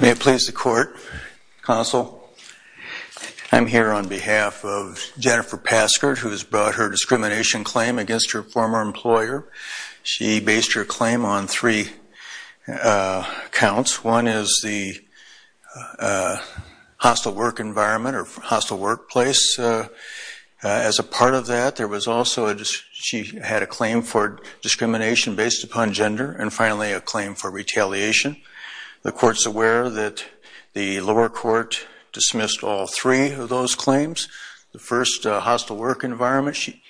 May it please the court. Counsel, I'm here on behalf of Jennifer Paskert who has brought her discrimination claim against her former employer. She based her claim on three counts. One is the hostile work environment or hostile workplace. As a part of that there was also she had a claim for discrimination based upon gender and finally a claim for retaliation. The court's aware that the lower court dismissed all three of those claims. The first hostile work environment she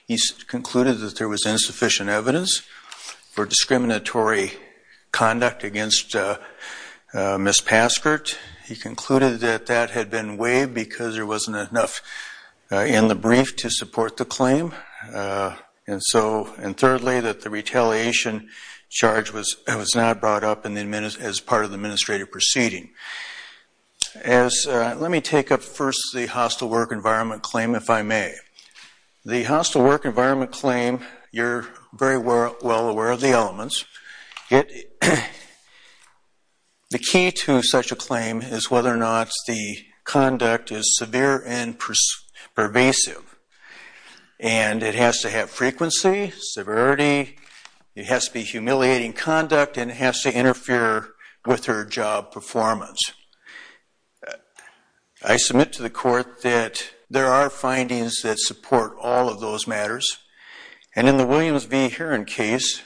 concluded that there was insufficient evidence for discriminatory conduct against Miss Paskert. He concluded that that had been waived because there wasn't enough in the brief to support the claim and so and thirdly that the retaliation charge was it was not brought up in the minutes as part of the administrative proceeding. As let me take up first the hostile work environment claim if I may. The hostile work environment claim you're very well aware of the elements. The key to such a claim is whether or not the conduct is severe and pervasive and it has to have frequency, severity, it has to be humiliating conduct and it has to interfere with her job performance. I submit to the court that there are findings that support all of those matters and in the Williams v. Heron case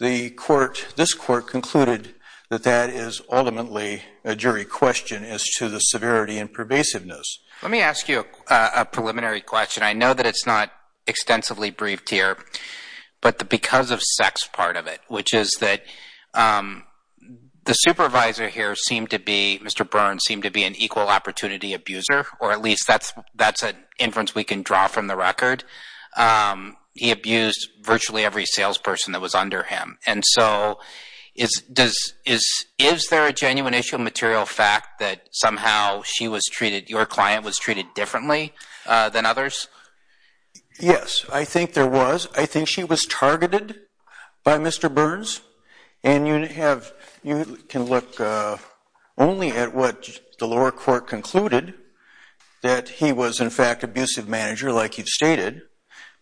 the court this court concluded that that is ultimately a jury question as to the severity and pervasiveness. Let me ask you a preliminary question. I know that it's not extensively briefed here but the because of sex part of it which is that the supervisor here seemed to be Mr. Burns seemed to be an equal opportunity abuser or at least that's that's an inference we can draw from the record. He abused virtually every salesperson that was under him and so is does is is there a genuine issue material fact that somehow she was treated your client was treated differently than others? Yes I think there was. I think she was targeted by Mr. Burns and you have you can look only at what the lower court concluded that he was in fact abusive manager like he stated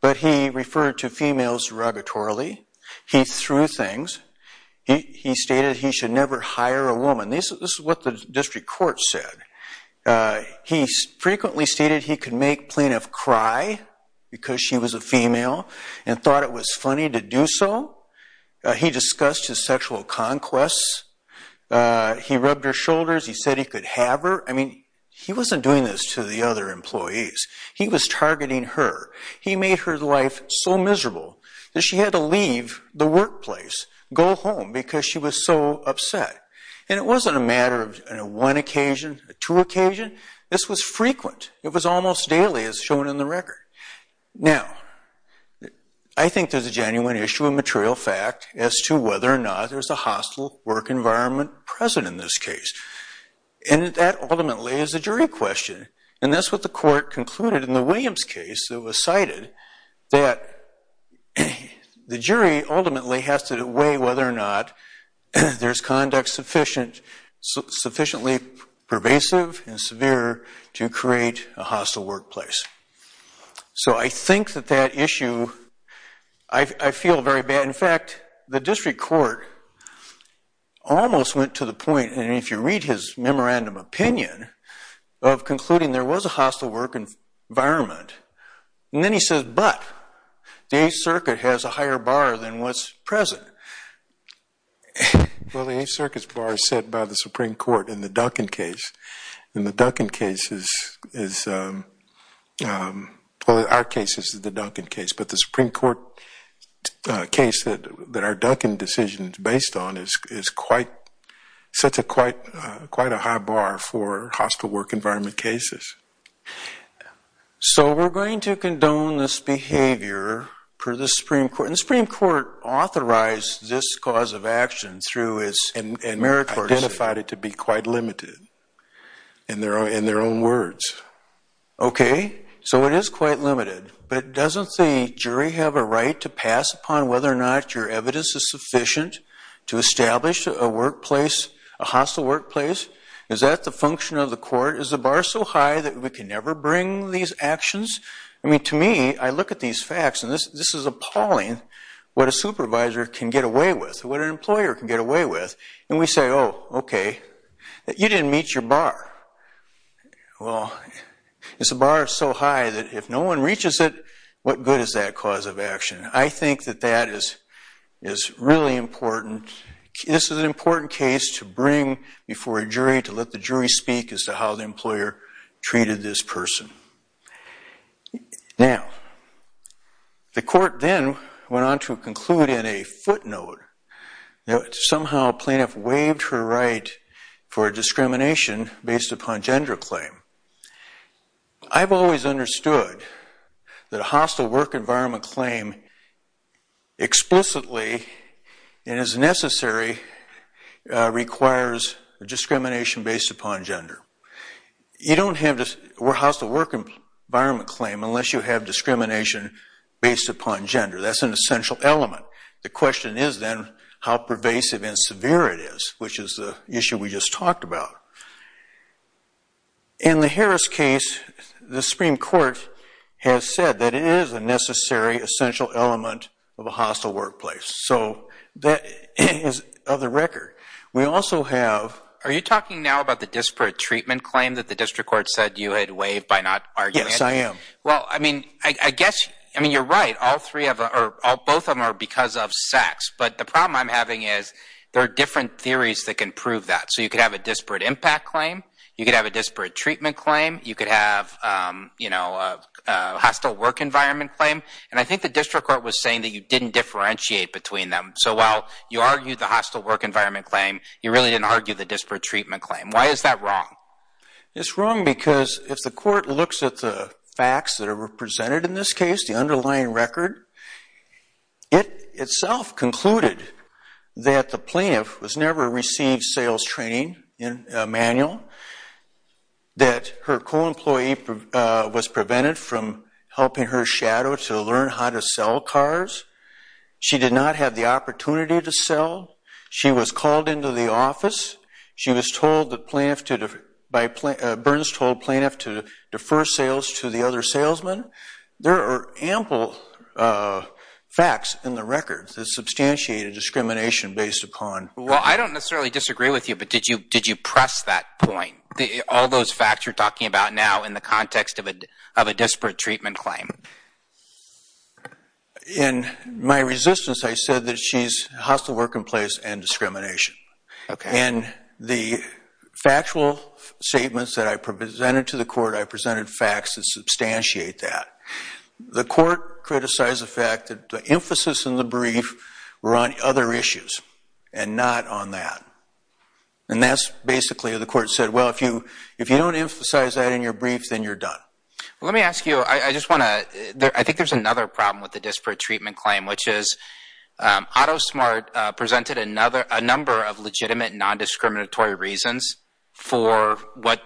but he referred to females derogatorily. He threw things. He stated he should never hire a woman. This is what the district court said. He frequently stated he could make enough cry because she was a female and thought it was funny to do so. He discussed his sexual conquests. He rubbed her shoulders. He said he could have her. I mean he wasn't doing this to the other employees. He was targeting her. He made her life so miserable that she had to leave the workplace go home because she was so upset and it wasn't a matter of a one occasion a two occasion. This was frequent. It was almost daily as shown in the record. Now I think there's a genuine issue of material fact as to whether or not there's a hostile work environment present in this case and that ultimately is a jury question and that's what the court concluded in the Williams case that was cited that the jury ultimately has to weigh whether or not there's conduct sufficient sufficiently pervasive and severe to create a hostile workplace. So I think that that issue I feel very bad. In fact the district court almost went to the point and if you read his memorandum opinion of concluding there was a hostile work environment and then he says but the 8th circuit has a higher bar than what's present. Well the 8th circuit's bar is set by the supreme court in the Duncan case and the Duncan case is well our case is the Duncan case but the supreme court case that that our Duncan decision is based on is is quite such a quite quite a high bar for hostile work environment cases. So we're going to condone this behavior for the supreme court and the supreme court authorized this cause of action through his and meritorious identified it to be quite limited in their own in their own words. Okay so it is quite limited but doesn't the jury have a right to pass upon whether or not your evidence is sufficient to establish a a hostile workplace? Is that the function of the court? Is the bar so high that we can never bring these actions? I mean to me I look at these facts and this this is appalling what a supervisor can get away with what an employer can get away with and we say oh okay you didn't meet your bar. Well it's a bar so high that if no one reaches it what good is that cause of action? I think that is is really important. This is an important case to bring before a jury to let the jury speak as to how the employer treated this person. Now the court then went on to conclude in a footnote that somehow plaintiff waived her right for discrimination based upon gender claim. I've always understood that a hostile work environment claim explicitly and as necessary requires discrimination based upon gender. You don't have this hostile work environment claim unless you have discrimination based upon gender. That's an essential element. The question is then how pervasive and severe it is which is the issue we just talked about. In the Harris case the Supreme Court has said that it is a necessary essential element of a hostile workplace. So that is of the record. We also have. Are you talking now about the disparate treatment claim that the district court said you had waived by not arguing? Yes I am. Well I mean I guess I mean you're right. All three of them or both of them are because of sex. But the problem I'm having is there are different theories that can prove that. So you could have a disparate impact claim. You could have a disparate treatment claim. You could have you know a hostile work environment claim. And I think the district court was saying that you didn't differentiate between them. So while you argued the hostile work environment claim you really didn't argue the disparate treatment claim. Why is that wrong? It's wrong because if the court looks at the presented in this case, the underlying record, it itself concluded that the plaintiff was never received sales training in a manual. That her co-employee was prevented from helping her shadow to learn how to sell cars. She did not have the opportunity to sell. She was called into the There are ample facts in the records that substantiate a discrimination based upon. Well I don't necessarily disagree with you but did you did you press that point? The all those facts you're talking about now in the context of a of a disparate treatment claim? In my resistance I said that she's hostile work in place and discrimination. Okay. And the court criticized the fact that the emphasis in the brief were on other issues and not on that. And that's basically the court said well if you if you don't emphasize that in your brief then you're done. Let me ask you I just want to there I think there's another problem with the disparate treatment claim which is AutoSmart presented another a number of legitimate non-discriminatory reasons for what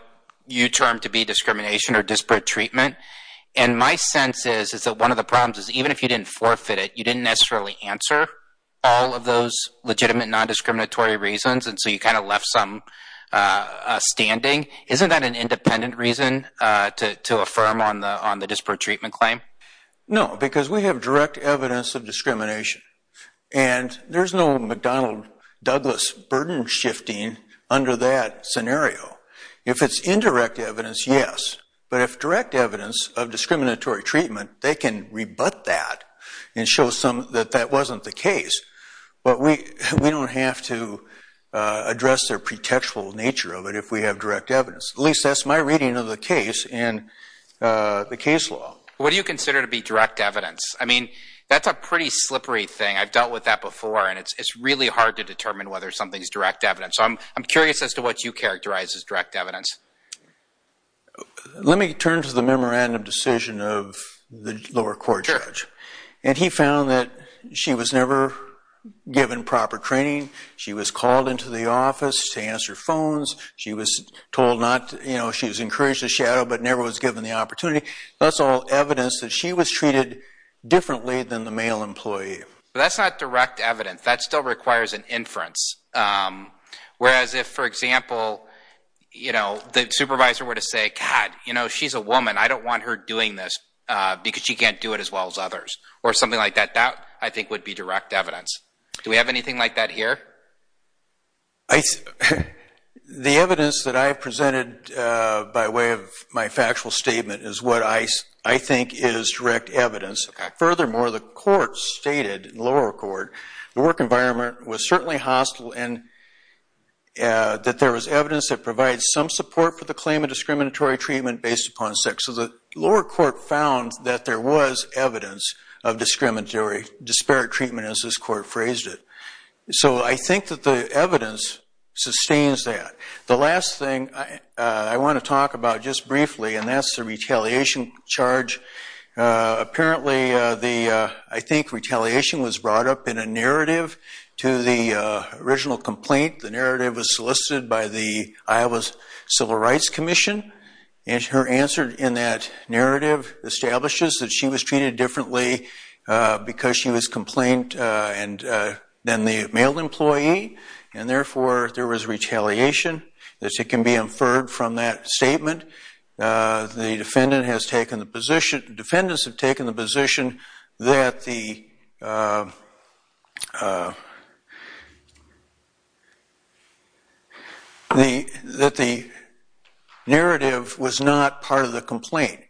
you term to be discrimination or disparate treatment. And my sense is is that one of the problems is even if you didn't forfeit it you didn't necessarily answer all of those legitimate non-discriminatory reasons and so you kind of left some standing. Isn't that an independent reason to to affirm on the on the disparate treatment claim? No because we have direct evidence of discrimination and there's no McDonnell Douglas burden shifting under that scenario. If it's indirect evidence yes but if direct evidence of discriminatory treatment they can rebut that and show some that that wasn't the case. But we we don't have to address their pretextual nature of it if we have direct evidence. At least that's my reading of the case in the case law. What do you consider to be direct evidence? I mean whether something's direct evidence. I'm curious as to what you characterize as direct evidence. Let me turn to the memorandum decision of the lower court judge and he found that she was never given proper training. She was called into the office to answer phones. She was told not you know she was encouraged to shadow but never was given the opportunity. That's all evidence that she was treated differently than the male employee. But that's not direct evidence. That still requires an inference. Whereas if for example you know the supervisor were to say God you know she's a woman I don't want her doing this because she can't do it as well as others or something like that. That I think would be direct evidence. Do we have anything like that here? The evidence that I presented by way of my factual statement is what I think is direct evidence. Furthermore the court stated, lower court, the work environment was certainly hostile and that there was evidence that provides some support for the claim of discriminatory treatment based upon sex. So the lower court found that there was evidence of discriminatory disparate treatment as this court phrased it. So I think that the evidence sustains that. The last thing I want to talk about just briefly and that's the retaliation charge. Apparently the I think retaliation was brought up in a narrative to the original complaint. The narrative was solicited by the Iowa Civil Rights Commission and her answer in that narrative establishes that she was treated differently because she was complained and then the male employee and therefore there was retaliation. This can be inferred from that statement. The defendant has taken the position, defendants have taken the position that the narrative was not part of the complaint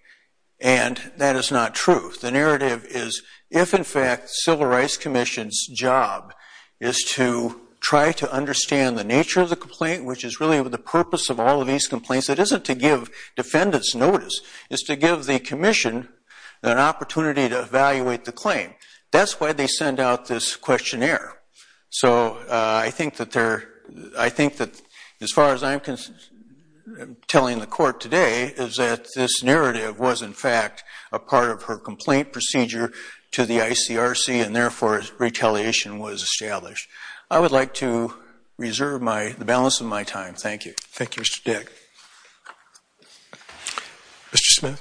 and that is not true. The narrative is if in fact Civil Rights Commission's job is to try to the purpose of all of these complaints it isn't to give defendants notice. It's to give the commission an opportunity to evaluate the claim. That's why they send out this questionnaire. So I think that as far as I'm telling the court today is that this narrative was in fact a part of her complaint procedure to the ICRC and therefore retaliation was established. I would like to reserve the balance of my time. Thank you. Thank you Mr. Dick. Mr. Smith.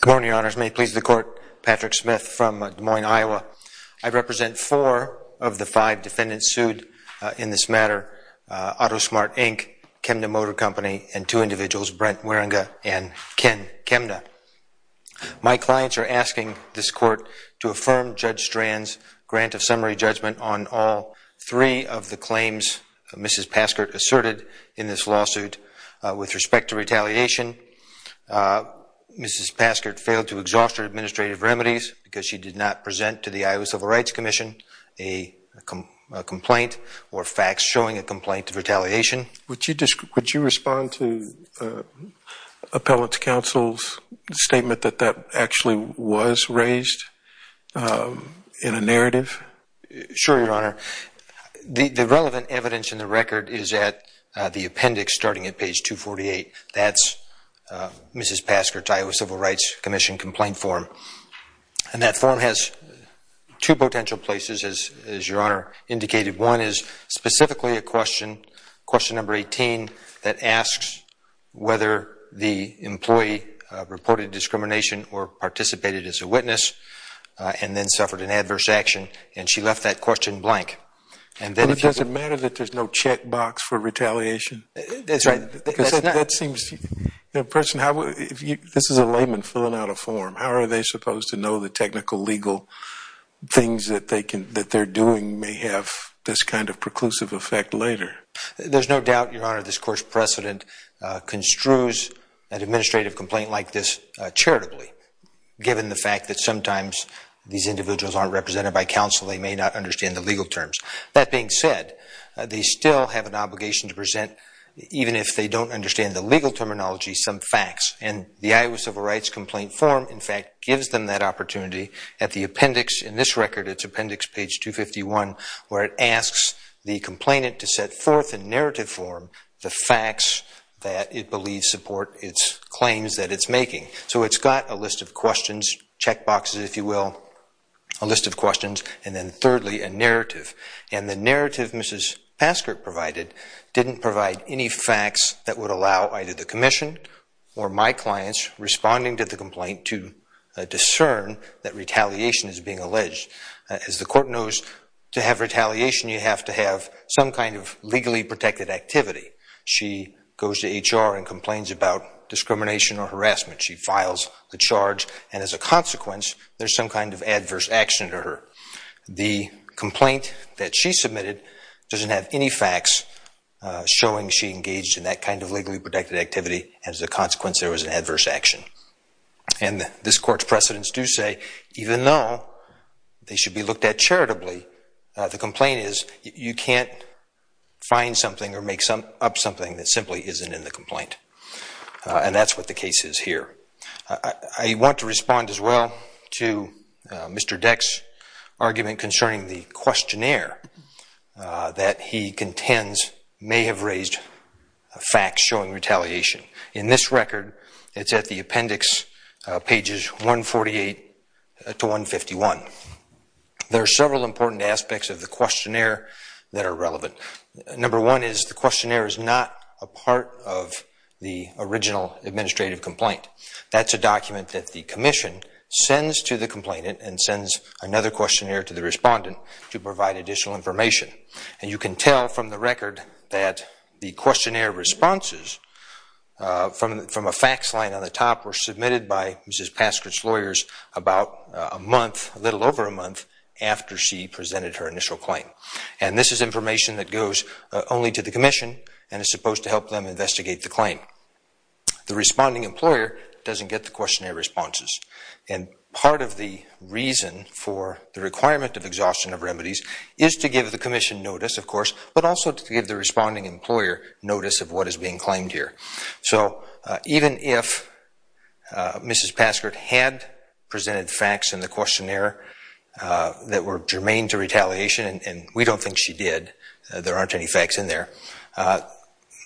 Good morning your honors. May it please the court. Patrick Smith from Des Moines, Iowa. I represent four of the five defendants sued in this matter. AutoSmart Inc., Chemda Motor Company and two individuals Brent Waringa and Ken Chemda. My clients are asking this court to affirm Judge Strand's grant of summary judgment on all three of the claims Mrs. Paskert asserted in this lawsuit with respect to retaliation. Mrs. Paskert failed to exhaust her administrative remedies because she did not present to the Iowa Civil Rights Commission a complaint or facts showing a complaint of retaliation. Would you respond to appellate counsel's statement that that actually was raised in a narrative? Sure your honor. The relevant evidence in the record is at the appendix starting at page 248. That's Mrs. Paskert's Iowa Civil Rights Commission complaint form and that form has two potential places as your honor indicated. One is specifically a question, question number 18 that asks whether the employee reported discrimination or participated as a witness and then suffered an adverse action and she left that question blank. And then it doesn't matter that there's no check box for retaliation? That's right. That seems the person how if you this is a layman filling out a form how are they supposed to know the technical legal things that they can that they're doing may have this kind of preclusive effect later? There's no doubt your honor this court's precedent construes an administrative complaint like this charitably given the fact that sometimes these individuals aren't represented by counsel they may not understand the legal terms. That being said they still have an obligation to present even if they don't understand the legal terminology some facts and the Iowa Civil Rights complaint form in fact gives them that opportunity at the appendix in this record it's appendix page 251 where it asks the complainant to set forth in narrative form the facts that it believes support its claims that it's making. So it's got a list of questions, check boxes if you will, a list of questions and then thirdly a narrative and the narrative Mrs. Paskert provided didn't provide any facts that would allow either the commission or my clients responding to the complaint to discern that retaliation is being alleged. As the court knows to have retaliation you have to have some kind of legally protected activity. She goes to HR and complains about discrimination or harassment. She files the charge and as a consequence there's some kind of adverse action to her. The complaint that she submitted doesn't have any facts showing she engaged in that kind of legally protected activity as a consequence there was an adverse action and this court's precedents do say even though they should be looked at charitably the complaint is you can't find something or make some up something that simply isn't in the complaint and that's what the case is here. I want to respond as well to Mr. Deck's argument concerning the questionnaire that he contends may have raised facts showing retaliation. In this record it's at the appendix pages 148 to 151. There are several important aspects of the questionnaire that are relevant. Number one is the questionnaire is not a part of the original administrative complaint. That's a document that the commission sends to the complainant and sends another questionnaire to the respondent to provide additional information. And you can tell from the record that the questionnaire responses from a fax line on the top were submitted by Mrs. Paskrich's lawyers about a month, a little over a month, after she presented her initial claim. And this information that goes only to the commission and is supposed to help them investigate the claim. The responding employer doesn't get the questionnaire responses. And part of the reason for the requirement of exhaustion of remedies is to give the commission notice, of course, but also to give the responding employer notice of what is being claimed here. So even if Mrs. Paskrich had presented facts in the questionnaire that were germane to retaliation and we don't think she did, there aren't any facts in there,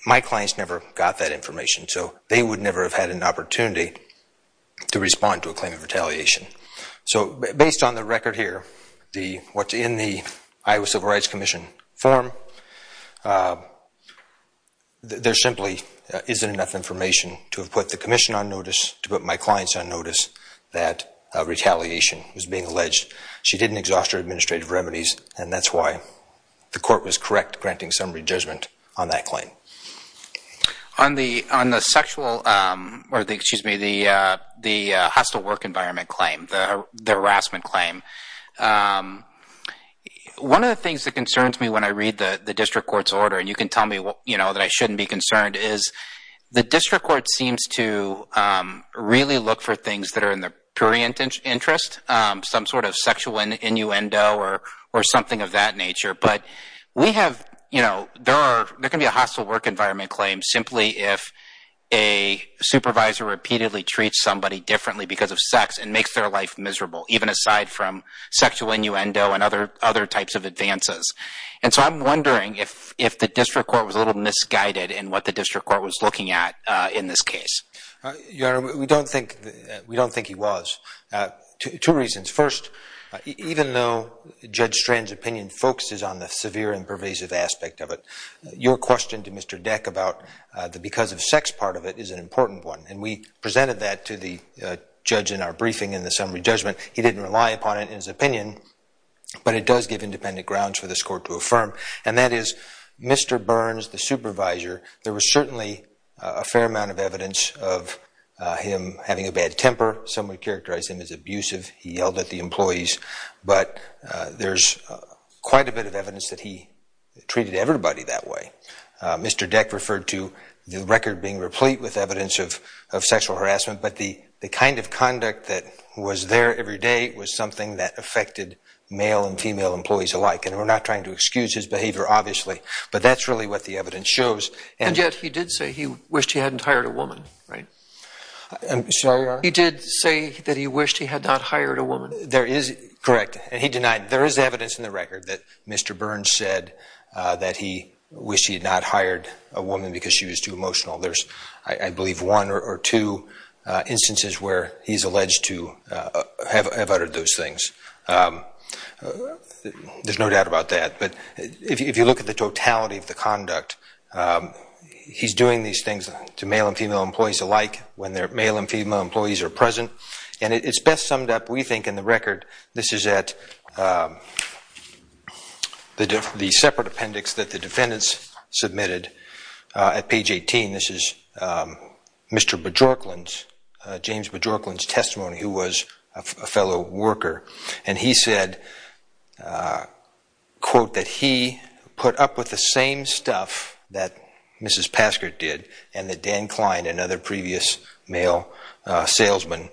my clients never got that information. So they would never have had an opportunity to respond to a claim of retaliation. So based on the record here, what's in the Iowa Civil Rights Commission form, there simply isn't enough information to have put the commission on notice, to put my clients on notice that retaliation was being alleged. She didn't exhaust her remedies and that's why the court was correct granting summary judgment on that claim. On the sexual, or excuse me, the hostile work environment claim, the harassment claim, one of the things that concerns me when I read the district court's order, and you can tell me that I shouldn't be concerned, is the district court seems to really look for things that are in the purient interest, some sort of sexual innuendo or something of that nature, but we have, you know, there can be a hostile work environment claim simply if a supervisor repeatedly treats somebody differently because of sex and makes their life miserable, even aside from sexual innuendo and other types of advances. And so I'm wondering if the district court was a little misguided in what the district court was looking at in this case. Your Honor, we don't think he was. Two reasons. First, even though Judge Strand's opinion focuses on the severe and pervasive aspect of it, your question to Mr. Deck about the because of sex part of it is an important one, and we presented that to the judge in our briefing in the summary judgment. He didn't rely upon it in his opinion, but it does give independent grounds for this court to affirm, and that is Mr. Burns, the supervisor, there was certainly a fair amount of evidence of him having a bad temper. Some would characterize him as abusive. He yelled at the employees, but there's quite a bit of evidence that he treated everybody that way. Mr. Deck referred to the record being replete with evidence of sexual harassment, but the kind of conduct that was there every day was something that affected male and female employees alike, and we're not trying to excuse his behavior, obviously, but that's really what the evidence shows. And yet he did say he wished he hadn't hired a woman, right? I'm sorry, Your Honor? He did say that he wished he had not hired a woman. There is, correct, and he denied. There is evidence in the record that Mr. Burns said that he wished he had not hired a woman because she was too emotional. There's, I believe, one or two instances where he's alleged to have uttered those things. There's no doubt about that, but if you look at the totality of the conduct, he's doing these things to male and female employees alike when their male and female employees are present, and it's best summed up, we think, in the record. This is at the separate appendix that the defendants submitted at page 18. This is Mr. Bjorklund's, James Bjorklund's testimony, who was a fellow worker, and he said, quote, that he put up with the same stuff that Mrs. Paskert did and that Dan Klein and other previous male salesmen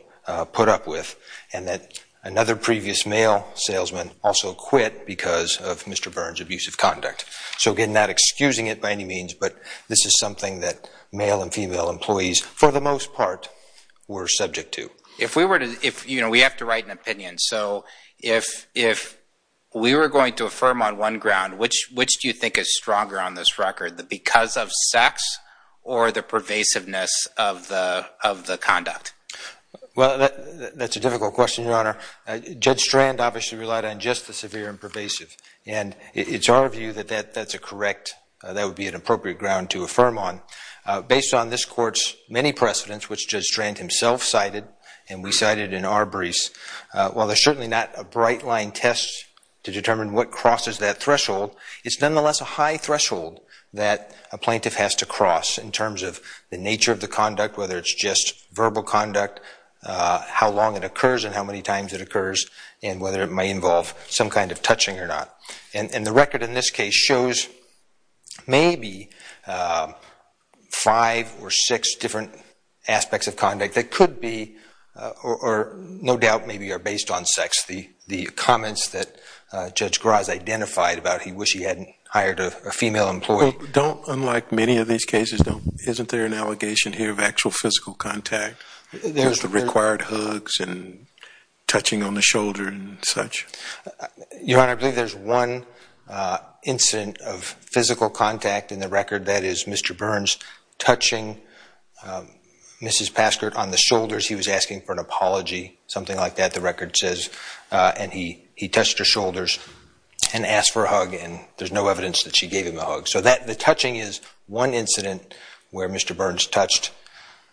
put up with, and that another previous male salesman also quit because of Mr. Burns' abusive conduct. So again, not excusing it by any means, but this is something that male and female employees, for the most part, were subject to. If we were to, if, you know, we have to So if, if we were going to affirm on one ground, which, which do you think is stronger on this record, the because of sex or the pervasiveness of the, of the conduct? Well, that's a difficult question, Your Honor. Judge Strand obviously relied on just the severe and pervasive, and it's our view that that, that's a correct, that would be an appropriate ground to affirm on. Based on this while there's certainly not a bright line test to determine what crosses that threshold, it's nonetheless a high threshold that a plaintiff has to cross in terms of the nature of the conduct, whether it's just verbal conduct, how long it occurs and how many times it occurs, and whether it may involve some kind of touching or not. And, and the record in this case shows maybe five or six different aspects of conduct that could be, or no doubt, maybe are based on sex. The, the comments that Judge Graz identified about he wish he hadn't hired a female employee. Don't, unlike many of these cases, don't, isn't there an allegation here of actual physical contact? There's the required hugs and touching on the shoulder and such? Your Honor, I believe there's one incident of physical contact in the record that is Mr. Burns touching Mrs. Paskert on the shoulders. He was asking for an apology, something like that, the record says. And he, he touched her shoulders and asked for a hug and there's no evidence that she gave him a hug. So that, the touching is one incident where Mr. Burns touched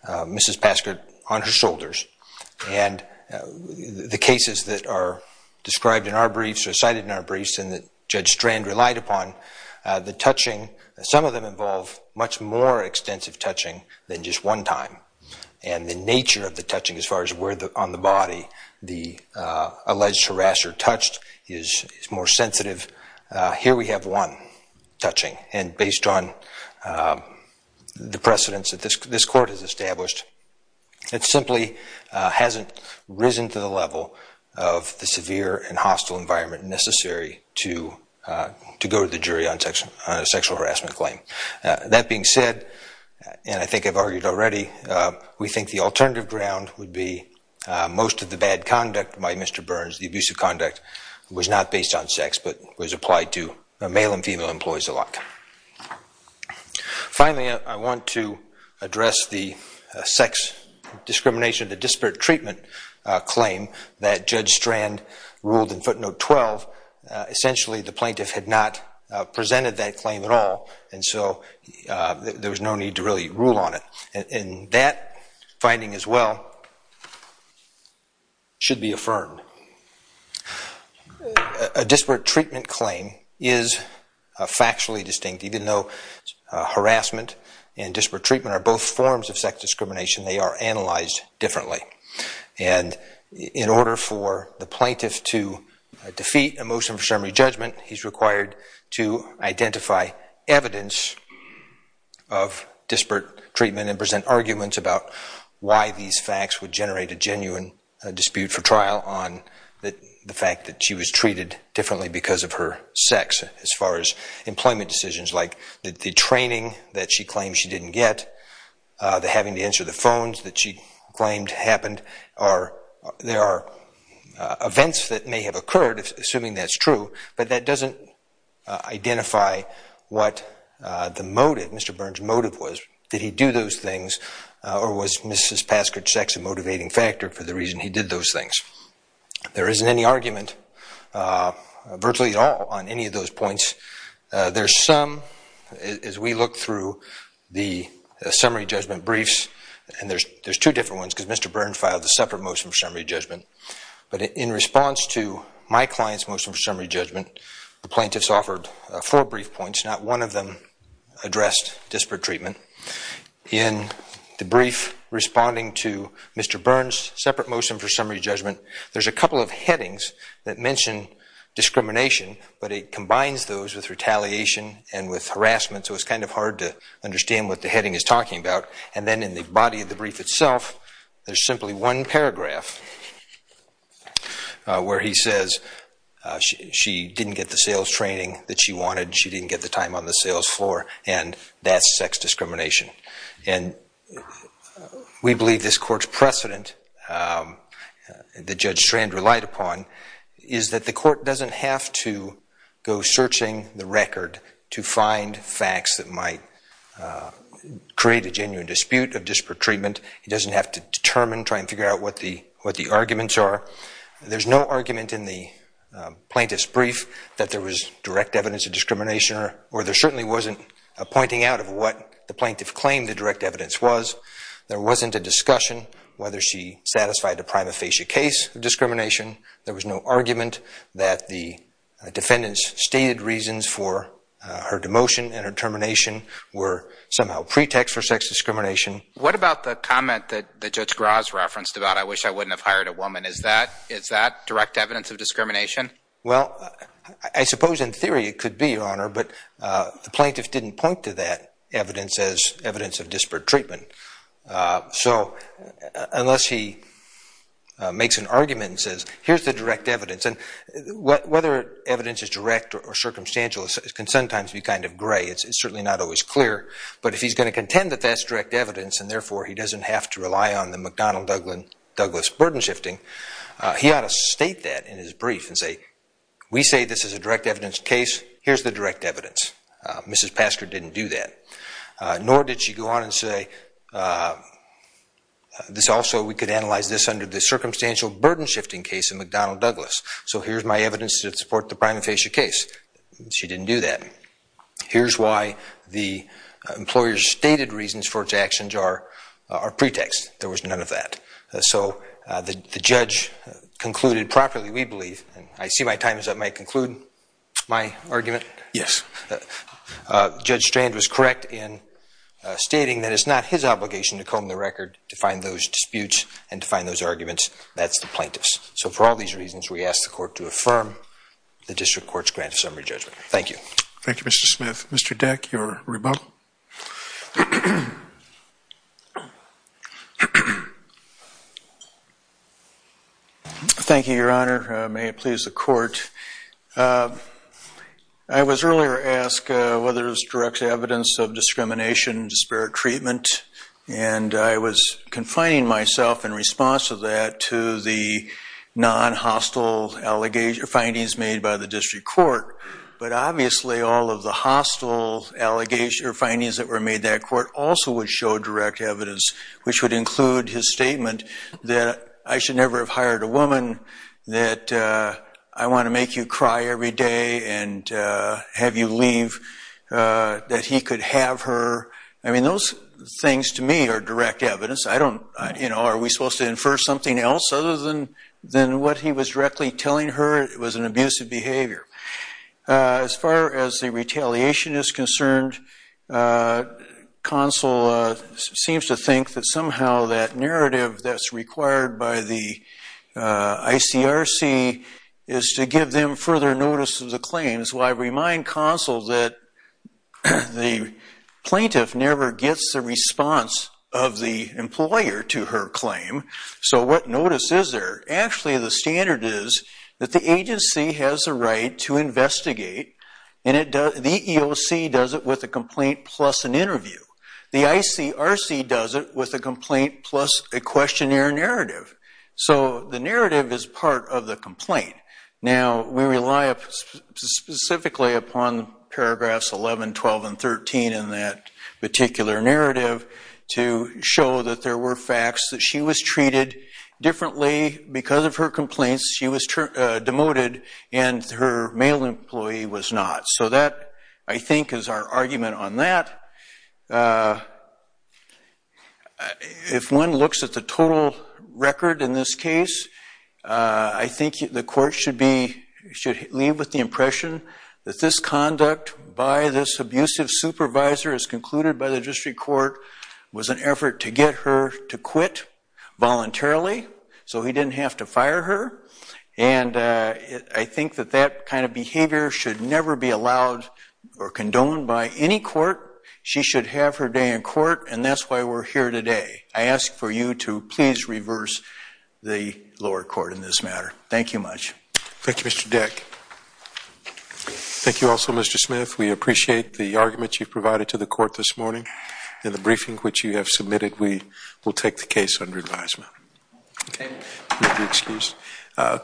Mrs. Paskert on her shoulders. And the cases that are described in our briefs, or cited in our briefs, and that Judge Strand relied upon, the touching, some of them involve much more extensive touching than just one time. And the nature of the touching as far as where the, on the body, the alleged harasser touched is, is more sensitive. Here we have one touching, and based on the precedents that this, this court has established, it simply hasn't risen to the level of the severe and hostile environment necessary to, to go to the jury on a sexual harassment claim. That being said, and I think I've argued already, we think the alternative ground would be most of the bad conduct by Mr. Burns, the abusive conduct, was not based on sex but was applied to male and female employees alike. Finally, I want to address the sex discrimination, the disparate treatment claim that Judge Strand ruled in footnote 12. Essentially, the plaintiff had not presented that claim at all, and so there was no need to really rule on it. And that finding as well should be affirmed. A disparate treatment claim is factually distinct, even though harassment and disparate treatment are both forms of sex discrimination, they are analyzed differently. And in order for the plaintiff to defeat a motion for summary judgment, he's required to identify evidence of disparate treatment and present arguments about why these facts would generate a genuine dispute for trial on the fact that she was treated differently because of her sex as far as employment decisions like the training that she claimed she didn't get, the having to answer the phones that she claimed happened, or there are events that may have occurred, assuming that's true, but that doesn't identify what the motive, Mr. Burns' motive was. Did he do those things, or was Mrs. There isn't any argument, virtually at all, on any of those points. There's some, as we look through the summary judgment briefs, and there's two different ones because Mr. Burns filed a separate motion for summary judgment, but in response to my client's motion for summary judgment, the plaintiffs offered four brief points, not one of them addressed disparate treatment. In the brief responding to Mr. Burns' separate motion for summary judgment, there's a couple of headings that mention discrimination, but it combines those with retaliation and with harassment, so it's kind of hard to understand what the heading is talking about. And then in the body of the brief itself, there's simply one paragraph where he says she didn't get the sales training that she wanted, she didn't get the time on the sales floor, and that's sex discrimination. And we believe this court's precedent that Judge Strand relied upon is that the court doesn't have to go searching the record to find facts that might create a genuine dispute of disparate treatment. It doesn't have to determine, try and figure out what the arguments are. There's no argument in the or there certainly wasn't a pointing out of what the plaintiff claimed the direct evidence was. There wasn't a discussion whether she satisfied the prima facie case of discrimination. There was no argument that the defendant's stated reasons for her demotion and her termination were somehow pretext for sex discrimination. What about the comment that Judge Graz referenced about I wish I wouldn't have hired a woman? Is that direct evidence of discrimination? Well, I suppose in theory it could be, Your Honor, but the plaintiff didn't point to that evidence as evidence of disparate treatment. So unless he makes an argument and says, here's the direct evidence, and whether evidence is direct or circumstantial can sometimes be kind of gray. It's certainly not always clear. But if he's going to contend that that's direct evidence and therefore he doesn't have to rely on the McDonnell-Douglas burden shifting, he ought to state that in his brief and say, we say this is a direct evidence case, here's the direct evidence. Mrs. Pastor didn't do that. Nor did she go on and say, this also we could analyze this under the circumstantial burden shifting case of McDonnell-Douglas. So here's my evidence to support the prima facie case. She didn't do that. Here's why the employer's stated reasons for its actions are pretext. There was none of that. So the judge concluded properly, we believe, and I see my time is up. May I conclude my argument? Yes. Judge Strand was correct in stating that it's not his obligation to comb the record to find those disputes and to find those arguments. That's the plaintiff's. So for all these reasons, we ask the court to affirm the district court's grant of summary judgment. Thank you. Thank you, Mr. Smith. Mr. Deck, your rebuttal. Thank you, Your Honor. May it please the court. I was earlier asked whether there's direct evidence of discrimination, disparate treatment, and I was confining myself in response to that to the non-hostile findings made by the district court. But obviously, all of the hostile allegations or findings that were made that would show direct evidence, which would include his statement that I should never have hired a woman, that I want to make you cry every day and have you leave, that he could have her. I mean, those things to me are direct evidence. Are we supposed to infer something else other than what he was directly telling her? It was an abusive behavior. As far as the retaliation is concerned, counsel seems to think that somehow that narrative that's required by the ICRC is to give them further notice of the claims. Well, I remind counsel that the plaintiff never gets the response of the employer to her claim. So what notice is there? Actually, the standard is that the agency has a right to investigate, and the EOC does it with a complaint plus an interview. The ICRC does it with a complaint plus a questionnaire narrative. So the narrative is part of the complaint. Now, we rely specifically upon paragraphs 11, 12, and 13 in that particular narrative to show that there were facts that she was treated differently because of her complaints. She was demoted and her male employee was not. So that, I think, is our argument on that. If one looks at the total record in this case, I think the court should leave with the impression that this conduct by this abusive supervisor as concluded by the district court was an effort to get her to quit voluntarily so he didn't have to fire her. And I think that that kind of behavior should never be allowed or condoned by any court. She should have her day in court, and that's why we're here today. I ask for you to please reverse the lower court in this matter. Thank you much. Thank you, Mr. Deck. Thank you also, Mr. Smith. We appreciate the argument you've provided to the court this morning. In the briefing which you have submitted, we will take the case under advisement. Okay, if you'll excuse me.